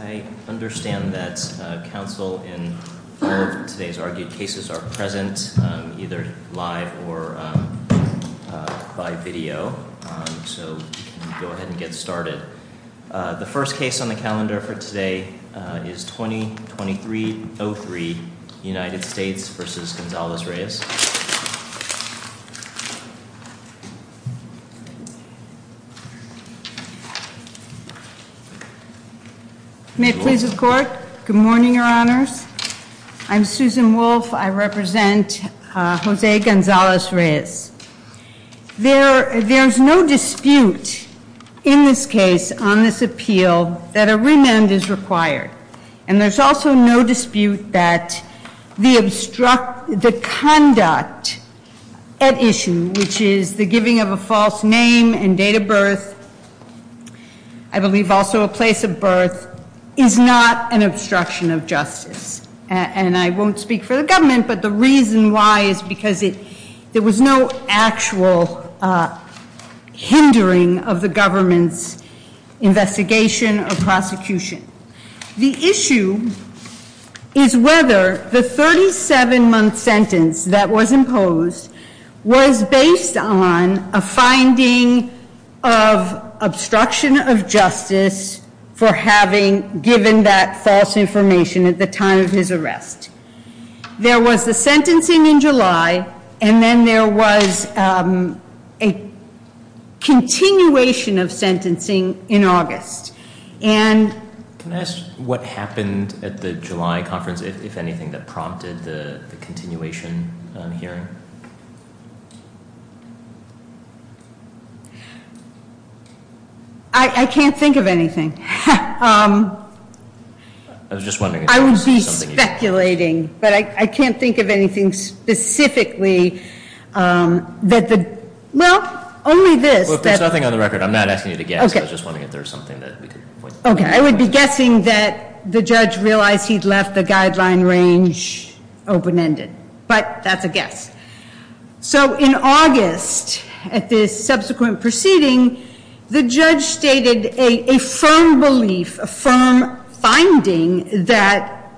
I understand that counsel in all of today's argued cases are present either live or by video. So go ahead and get started. The first case on the calendar for today is May it please the court. Good morning, your honors. I'm Susan Wolf. I represent Jose Gonzalez-Reyes. There's no dispute in this case on this appeal that a remand is required. And there's also no dispute that the conduct at issue, which is the giving of a false name and date of birth, I believe also a place of birth, is not an obstruction of justice. And I won't speak for the government, but the reason why is because there was no actual hindering of the government's investigation or prosecution. The issue is whether the 37-month sentence that was imposed was based on a finding of obstruction of justice for having given that false information at the time of his arrest. There was the sentencing in July, and then there was a continuation of sentencing in August. Can I ask what happened at the July conference, if anything, that prompted the continuation hearing? I can't think of anything. I was just wondering. I would be speculating, but I can't think of anything specifically. Well, only this. There's nothing on the record. I'm not asking you to guess. I was just wondering if there was something that we could point to. I would be guessing that the judge realized he'd left the guideline range open-ended. But that's a guess. So in August, at this subsequent proceeding, the judge stated a firm belief, a firm finding, that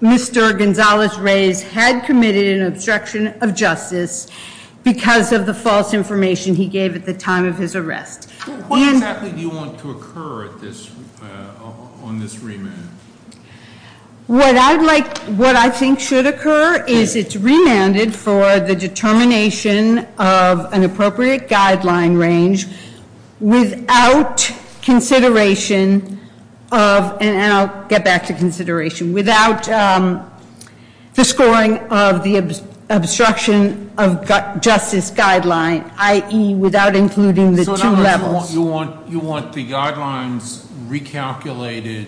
Mr. Gonzalez-Reyes had committed an obstruction of justice because of the false information he gave at the time of his arrest. What exactly do you want to occur on this remand? What I'd like, what I think should occur is it's remanded for the determination of an appropriate guideline range without consideration of, and I'll get back to consideration, without the scoring of the obstruction of justice guideline, i.e. without including the two levels. You want the guidelines recalculated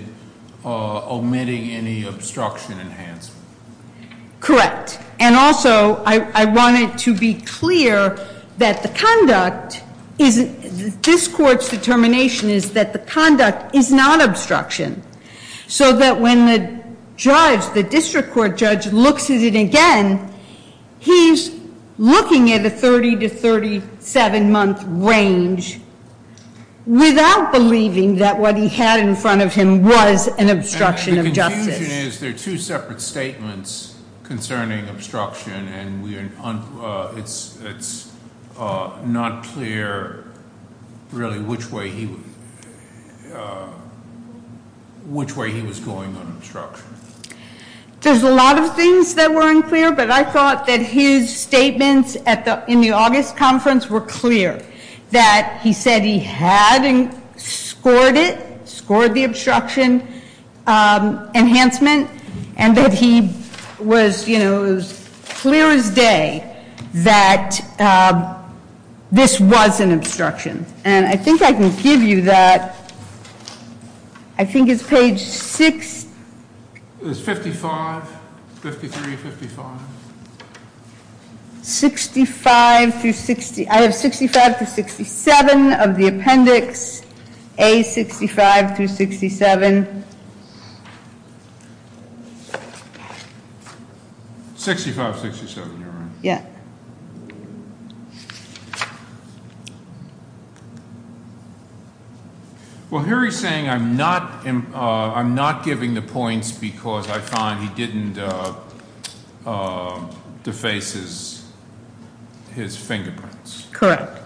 omitting any obstruction enhancement. Correct. And also, I wanted to be clear that the conduct, this court's determination is that the conduct is not obstruction. So that when the judge, the district court judge, looks at it again, he's looking at a 30 to 37 month range without believing that what he had in front of him was an obstruction of justice. And the confusion is, there are two separate statements concerning obstruction, and it's not clear really which way he was going on obstruction. There's a lot of things that were unclear, but I thought that his statements in the August conference were clear. That he said he had scored it, scored the obstruction enhancement, and that he was clear as day that this was an obstruction. And I think I can give you that. I think it's page six. It's 55, 53, 55. 65 through 60. I have 65 to 67 of the appendix. A, 65 through 67. 65, 67, you're right. Yeah. Well, here he's saying I'm not giving the points because I find he didn't deface his fingerprints. Correct.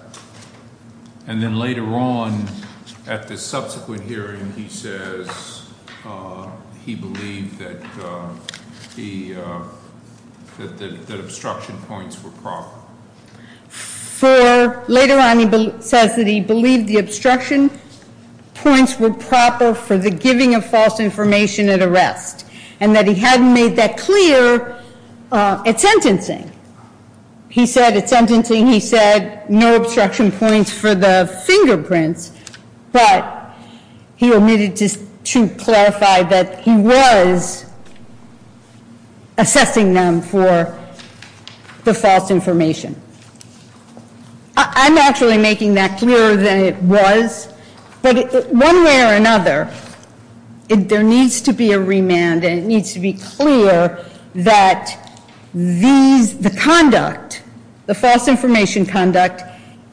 And then later on, at the subsequent hearing, he says he believed that the obstruction points were proper. For, later on he says that he believed the obstruction points were proper for the giving of false information at arrest, and that he hadn't made that clear at sentencing. He said at sentencing, he said no obstruction points for the fingerprints, but he omitted to clarify that he was assessing them for the false information. I'm actually making that clearer than it was. But one way or another, there needs to be a remand and it needs to be clear that the conduct, the false information conduct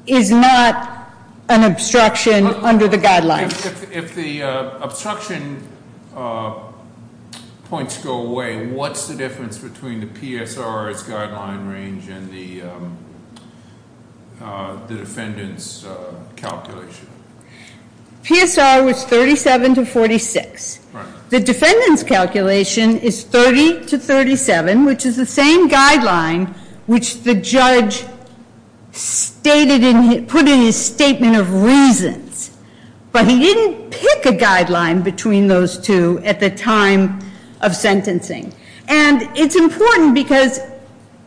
is not an obstruction under the guidelines. If the obstruction points go away, what's the difference between the PSR's guideline range and the defendant's calculation? PSR was 37 to 46. Right. The defendant's calculation is 30 to 37, which is the same guideline which the judge put in his statement of reasons. But he didn't pick a guideline between those two at the time of sentencing. And it's important because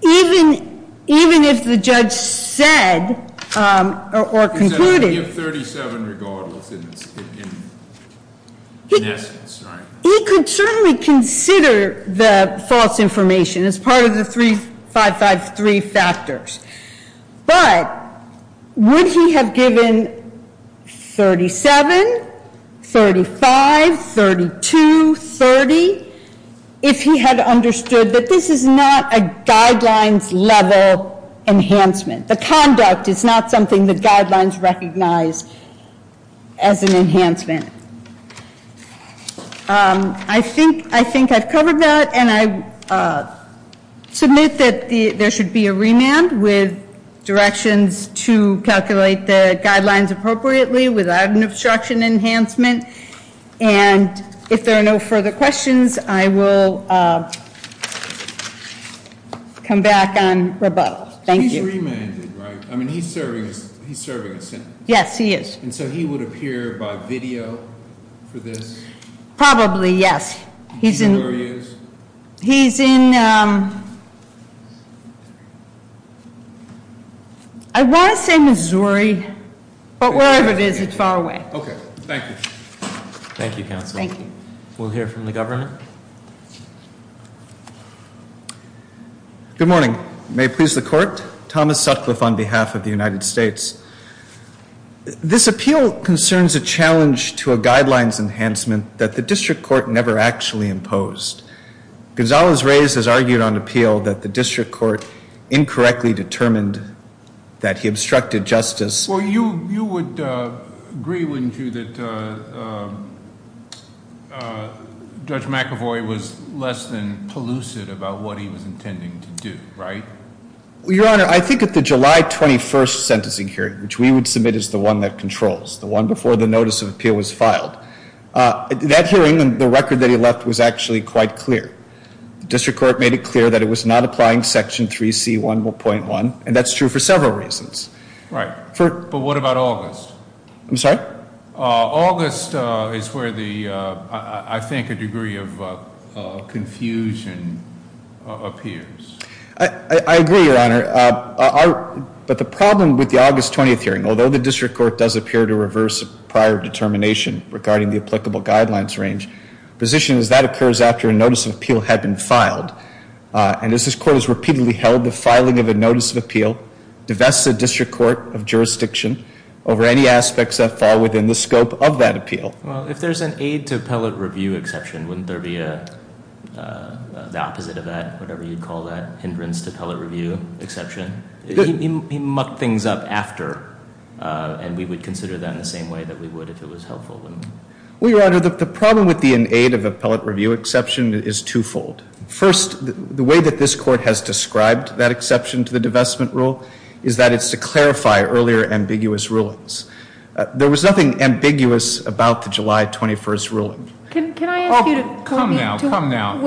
even if the judge said or concluded- He could certainly consider the false information as part of the 3553 factors. But would he have given 37, 35, 32, 30, if he had understood that this is not a guidelines level enhancement. The conduct is not something the guidelines recognize as an enhancement. I think I've covered that and I submit that there should be a remand with directions to calculate the guidelines appropriately without an obstruction enhancement. And if there are no further questions, I will come back on rebuttal. Thank you. He's remanded, right? I mean, he's serving a sentence. Yes, he is. And so he would appear by video for this? Probably, yes. He's in- Where he is? He's in, I want to say Missouri, but wherever it is, it's far away. Okay. Thank you. Thank you, counsel. Thank you. We'll hear from the governor. Good morning. May it please the court. Thomas Sutcliffe on behalf of the United States. This appeal concerns a challenge to a guidelines enhancement that the district court never actually imposed. Gonzalez-Reyes has argued on appeal that the district court incorrectly determined that he obstructed justice. Well, you would agree, wouldn't you, that Judge McAvoy was less than pellucid about what he was intending to do, right? Your Honor, I think at the July 21st sentencing hearing, which we would submit as the one that controls, the one before the notice of appeal was filed, that hearing, the record that he left was actually quite clear. The district court made it clear that it was not applying Section 3C.1.1, and that's true for several reasons. Right. But what about August? I'm sorry? August is where the, I think, a degree of confusion appears. I agree, Your Honor. But the problem with the August 20th hearing, although the district court does appear to reverse prior determination regarding the applicable guidelines range, the position is that occurs after a notice of appeal had been filed. And as this court has repeatedly held, the filing of a notice of appeal divests the district court of jurisdiction over any aspects that fall within the scope of that appeal. Well, if there's an aid-to-appellate-review exception, wouldn't there be the opposite of that, whatever you'd call that, hindrance-to-appellate-review exception? He mucked things up after, and we would consider that in the same way that we would if it was helpful. Well, Your Honor, the problem with the an aid-of-appellate-review exception is twofold. First, the way that this court has described that exception to the divestment rule is that it's to clarify earlier ambiguous rulings. There was nothing ambiguous about the July 21st ruling. Can I ask you to comment? Come now, come now.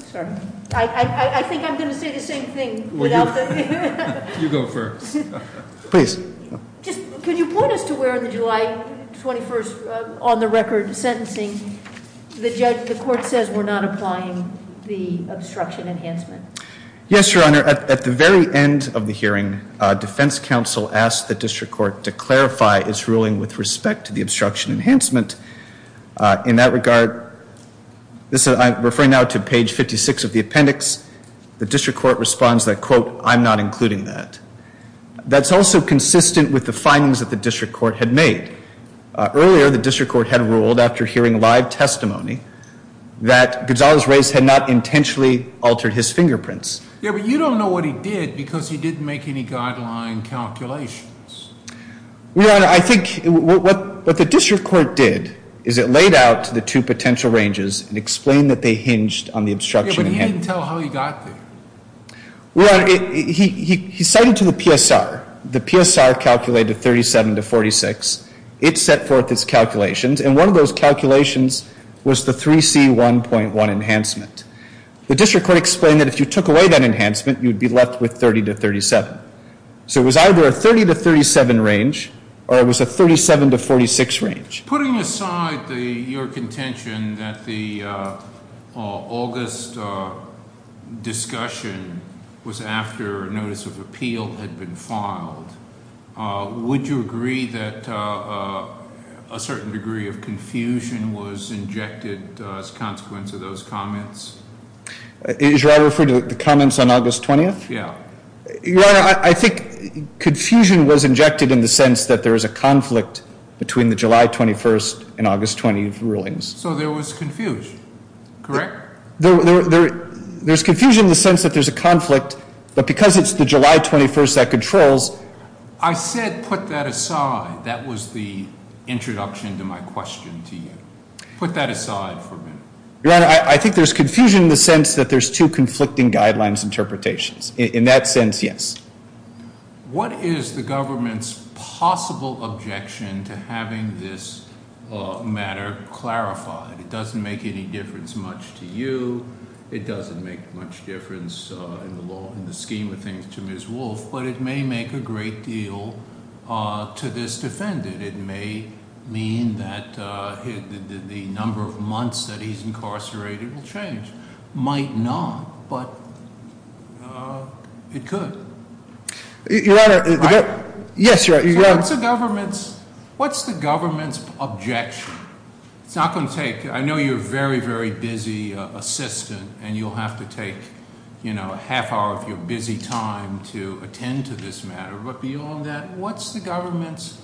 Sorry. I think I'm going to say the same thing without the... You go first. Please. Can you point us to where in the July 21st on-the-record sentencing the court says we're not applying the obstruction enhancement? Yes, Your Honor. At the very end of the hearing, defense counsel asked the district court to clarify its ruling with respect to the obstruction enhancement. In that regard, I'm referring now to page 56 of the appendix. The district court responds that, quote, I'm not including that. That's also consistent with the findings that the district court had made. Earlier, the district court had ruled, after hearing live testimony, that Gonzalez-Reyes had not intentionally altered his fingerprints. Yeah, but you don't know what he did because he didn't make any guideline calculations. Your Honor, I think what the district court did is it laid out the two potential ranges and explained that they hinged on the obstruction enhancement. Yeah, but he didn't tell how he got there. Your Honor, he cited to the PSR. The PSR calculated 37 to 46. It set forth its calculations, and one of those calculations was the 3C1.1 enhancement. The district court explained that if you took away that enhancement, you'd be left with 30 to 37. So it was either a 30 to 37 range or it was a 37 to 46 range. Putting aside your contention that the August discussion was after a notice of appeal had been filed, would you agree that a certain degree of confusion was injected as a consequence of those comments? Should I refer to the comments on August 20th? Yeah. Your Honor, I think confusion was injected in the sense that there is a conflict between the July 21st and August 20th rulings. So there was confusion, correct? There's confusion in the sense that there's a conflict, but because it's the July 21st that controls. I said put that aside. That was the introduction to my question to you. Put that aside for a minute. Your Honor, I think there's confusion in the sense that there's two conflicting guidelines interpretations. In that sense, yes. What is the government's possible objection to having this matter clarified? It doesn't make any difference much to you. It doesn't make much difference in the scheme of things to Ms. Wolf, but it may make a great deal to this defendant. It may mean that the number of months that he's incarcerated will change. Might not, but it could. Your Honor, the- Right? Yes, Your Honor. So what's the government's objection? It's not going to take, I know you're a very, very busy assistant and you'll have to take a half hour of your busy time to attend to this matter. But beyond that, what's the government's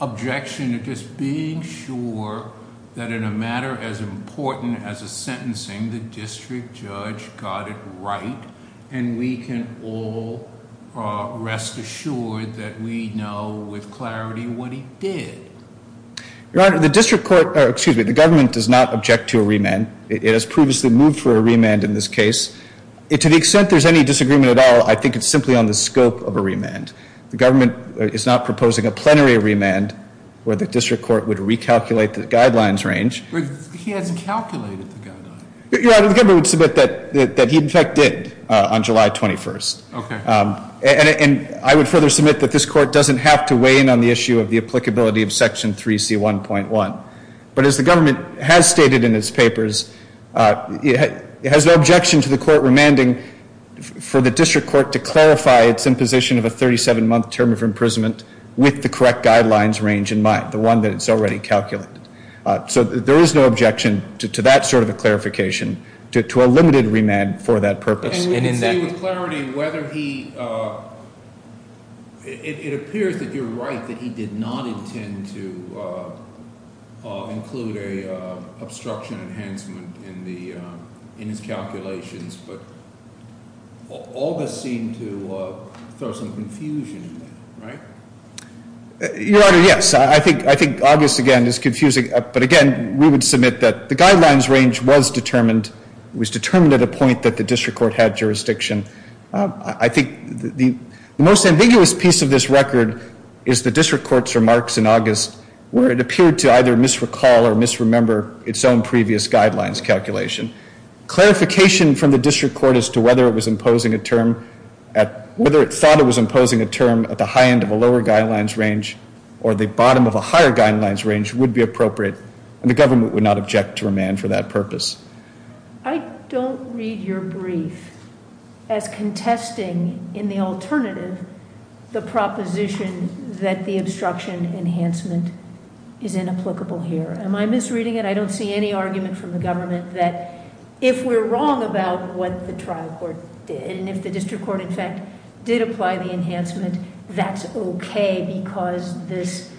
objection to just being sure that in a matter as important as a sentencing, the district judge got it right and we can all rest assured that we know with clarity what he did? Your Honor, the district court, excuse me, the government does not object to a remand. It has previously moved for a remand in this case. To the extent there's any disagreement at all, I think it's simply on the scope of a remand. The government is not proposing a plenary remand where the district court would recalculate the guidelines range. He hasn't calculated the guidelines. Your Honor, the government would submit that he in fact did on July 21st. Okay. And I would further submit that this court doesn't have to weigh in on the issue of the applicability of Section 3C1.1. But as the government has stated in its papers, it has no objection to the court remanding for the district court to clarify its imposition of a 37-month term of imprisonment with the correct guidelines range in mind, the one that it's already calculated. So there is no objection to that sort of a clarification, to a limited remand for that purpose. And we can see with clarity whether he, it appears that you're right, that he did not intend to include an obstruction enhancement in his calculations. But all this seemed to throw some confusion in there, right? Your Honor, yes. I think August, again, is confusing. But again, we would submit that the guidelines range was determined. It was determined at a point that the district court had jurisdiction. I think the most ambiguous piece of this record is the district court's remarks in August where it appeared to either misrecall or misremember its own previous guidelines calculation. Clarification from the district court as to whether it was imposing a term at, whether it thought it was imposing a term at the high end of a lower guidelines range or the bottom of a higher guidelines range would be appropriate. And the government would not object to remand for that purpose. I don't read your brief as contesting in the alternative the proposition that the obstruction enhancement is inapplicable here. Am I misreading it? I don't see any argument from the government that if we're wrong about what the trial court did and if the district court, in fact, did apply the enhancement, that's okay because this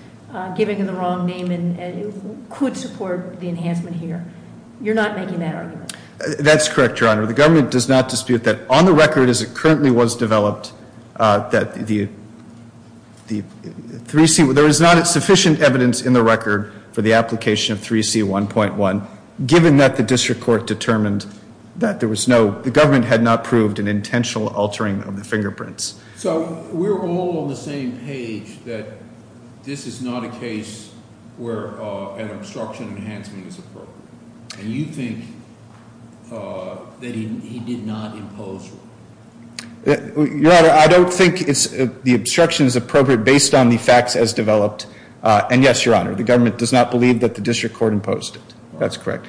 giving the wrong name could support the enhancement here. You're not making that argument. That's correct, Your Honor. The government does not dispute that. On the record as it currently was developed that the 3C, there is not sufficient evidence in the record for the application of 3C1.1. Given that the district court determined that there was no, the government had not proved an intentional altering of the fingerprints. So we're all on the same page that this is not a case where an obstruction enhancement is appropriate. And you think that he did not impose one. Your Honor, I don't think the obstruction is appropriate based on the facts as developed. And yes, Your Honor, the government does not believe that the district court imposed it. That's correct.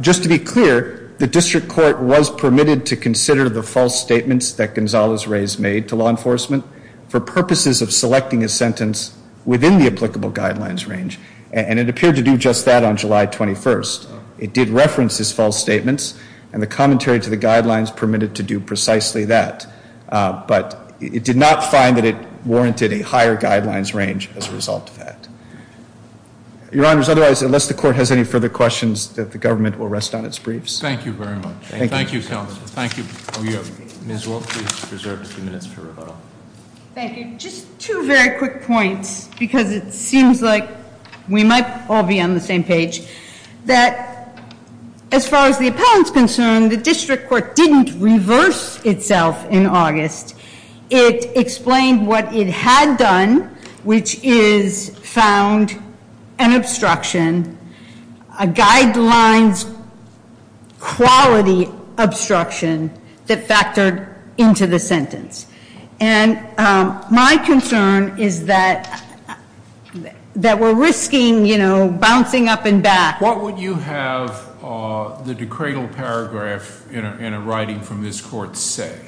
Just to be clear, the district court was permitted to consider the false statements that Gonzalez-Reyes made to law enforcement for purposes of selecting a sentence within the applicable guidelines range. And it appeared to do just that on July 21st. It did reference his false statements. And the commentary to the guidelines permitted to do precisely that. But it did not find that it warranted a higher guidelines range as a result of that. Your Honor, otherwise, unless the court has any further questions, the government will rest on its briefs. Thank you very much. Thank you, counsel. Thank you. Ms. Wolk, please reserve a few minutes for rebuttal. Thank you. Just two very quick points because it seems like we might all be on the same page. That as far as the appellant's concerned, the district court didn't reverse itself in August. It explained what it had done, which is found an obstruction, a guidelines quality obstruction that factored into the sentence. And my concern is that we're risking bouncing up and back. What would you have the decredal paragraph in a writing from this court say?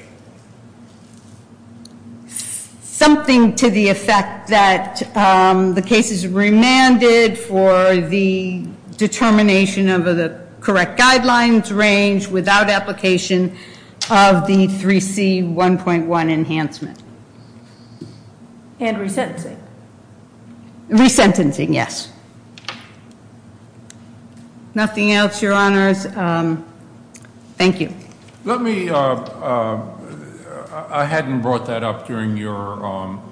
Something to the effect that the case is remanded for the determination of the correct guidelines range without application of the 3C1.1 enhancement. And resentencing. Resentencing, yes. Nothing else, Your Honors. Thank you. Let me, I hadn't brought that up during your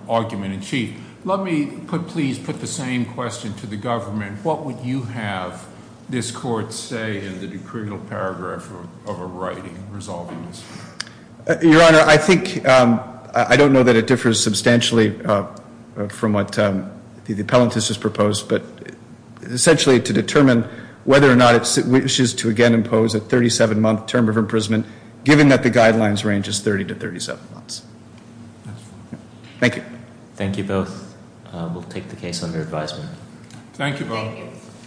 argument in chief. Let me please put the same question to the government. What would you have this court say in the decredal paragraph of a writing resolving this? Your Honor, I think, I don't know that it differs substantially from what the appellant has proposed, but essentially to determine whether or not it wishes to again impose a 37-month term of imprisonment given that the guidelines range is 30 to 37 months. Thank you. Thank you both. We'll take the case under advisement. Thank you both.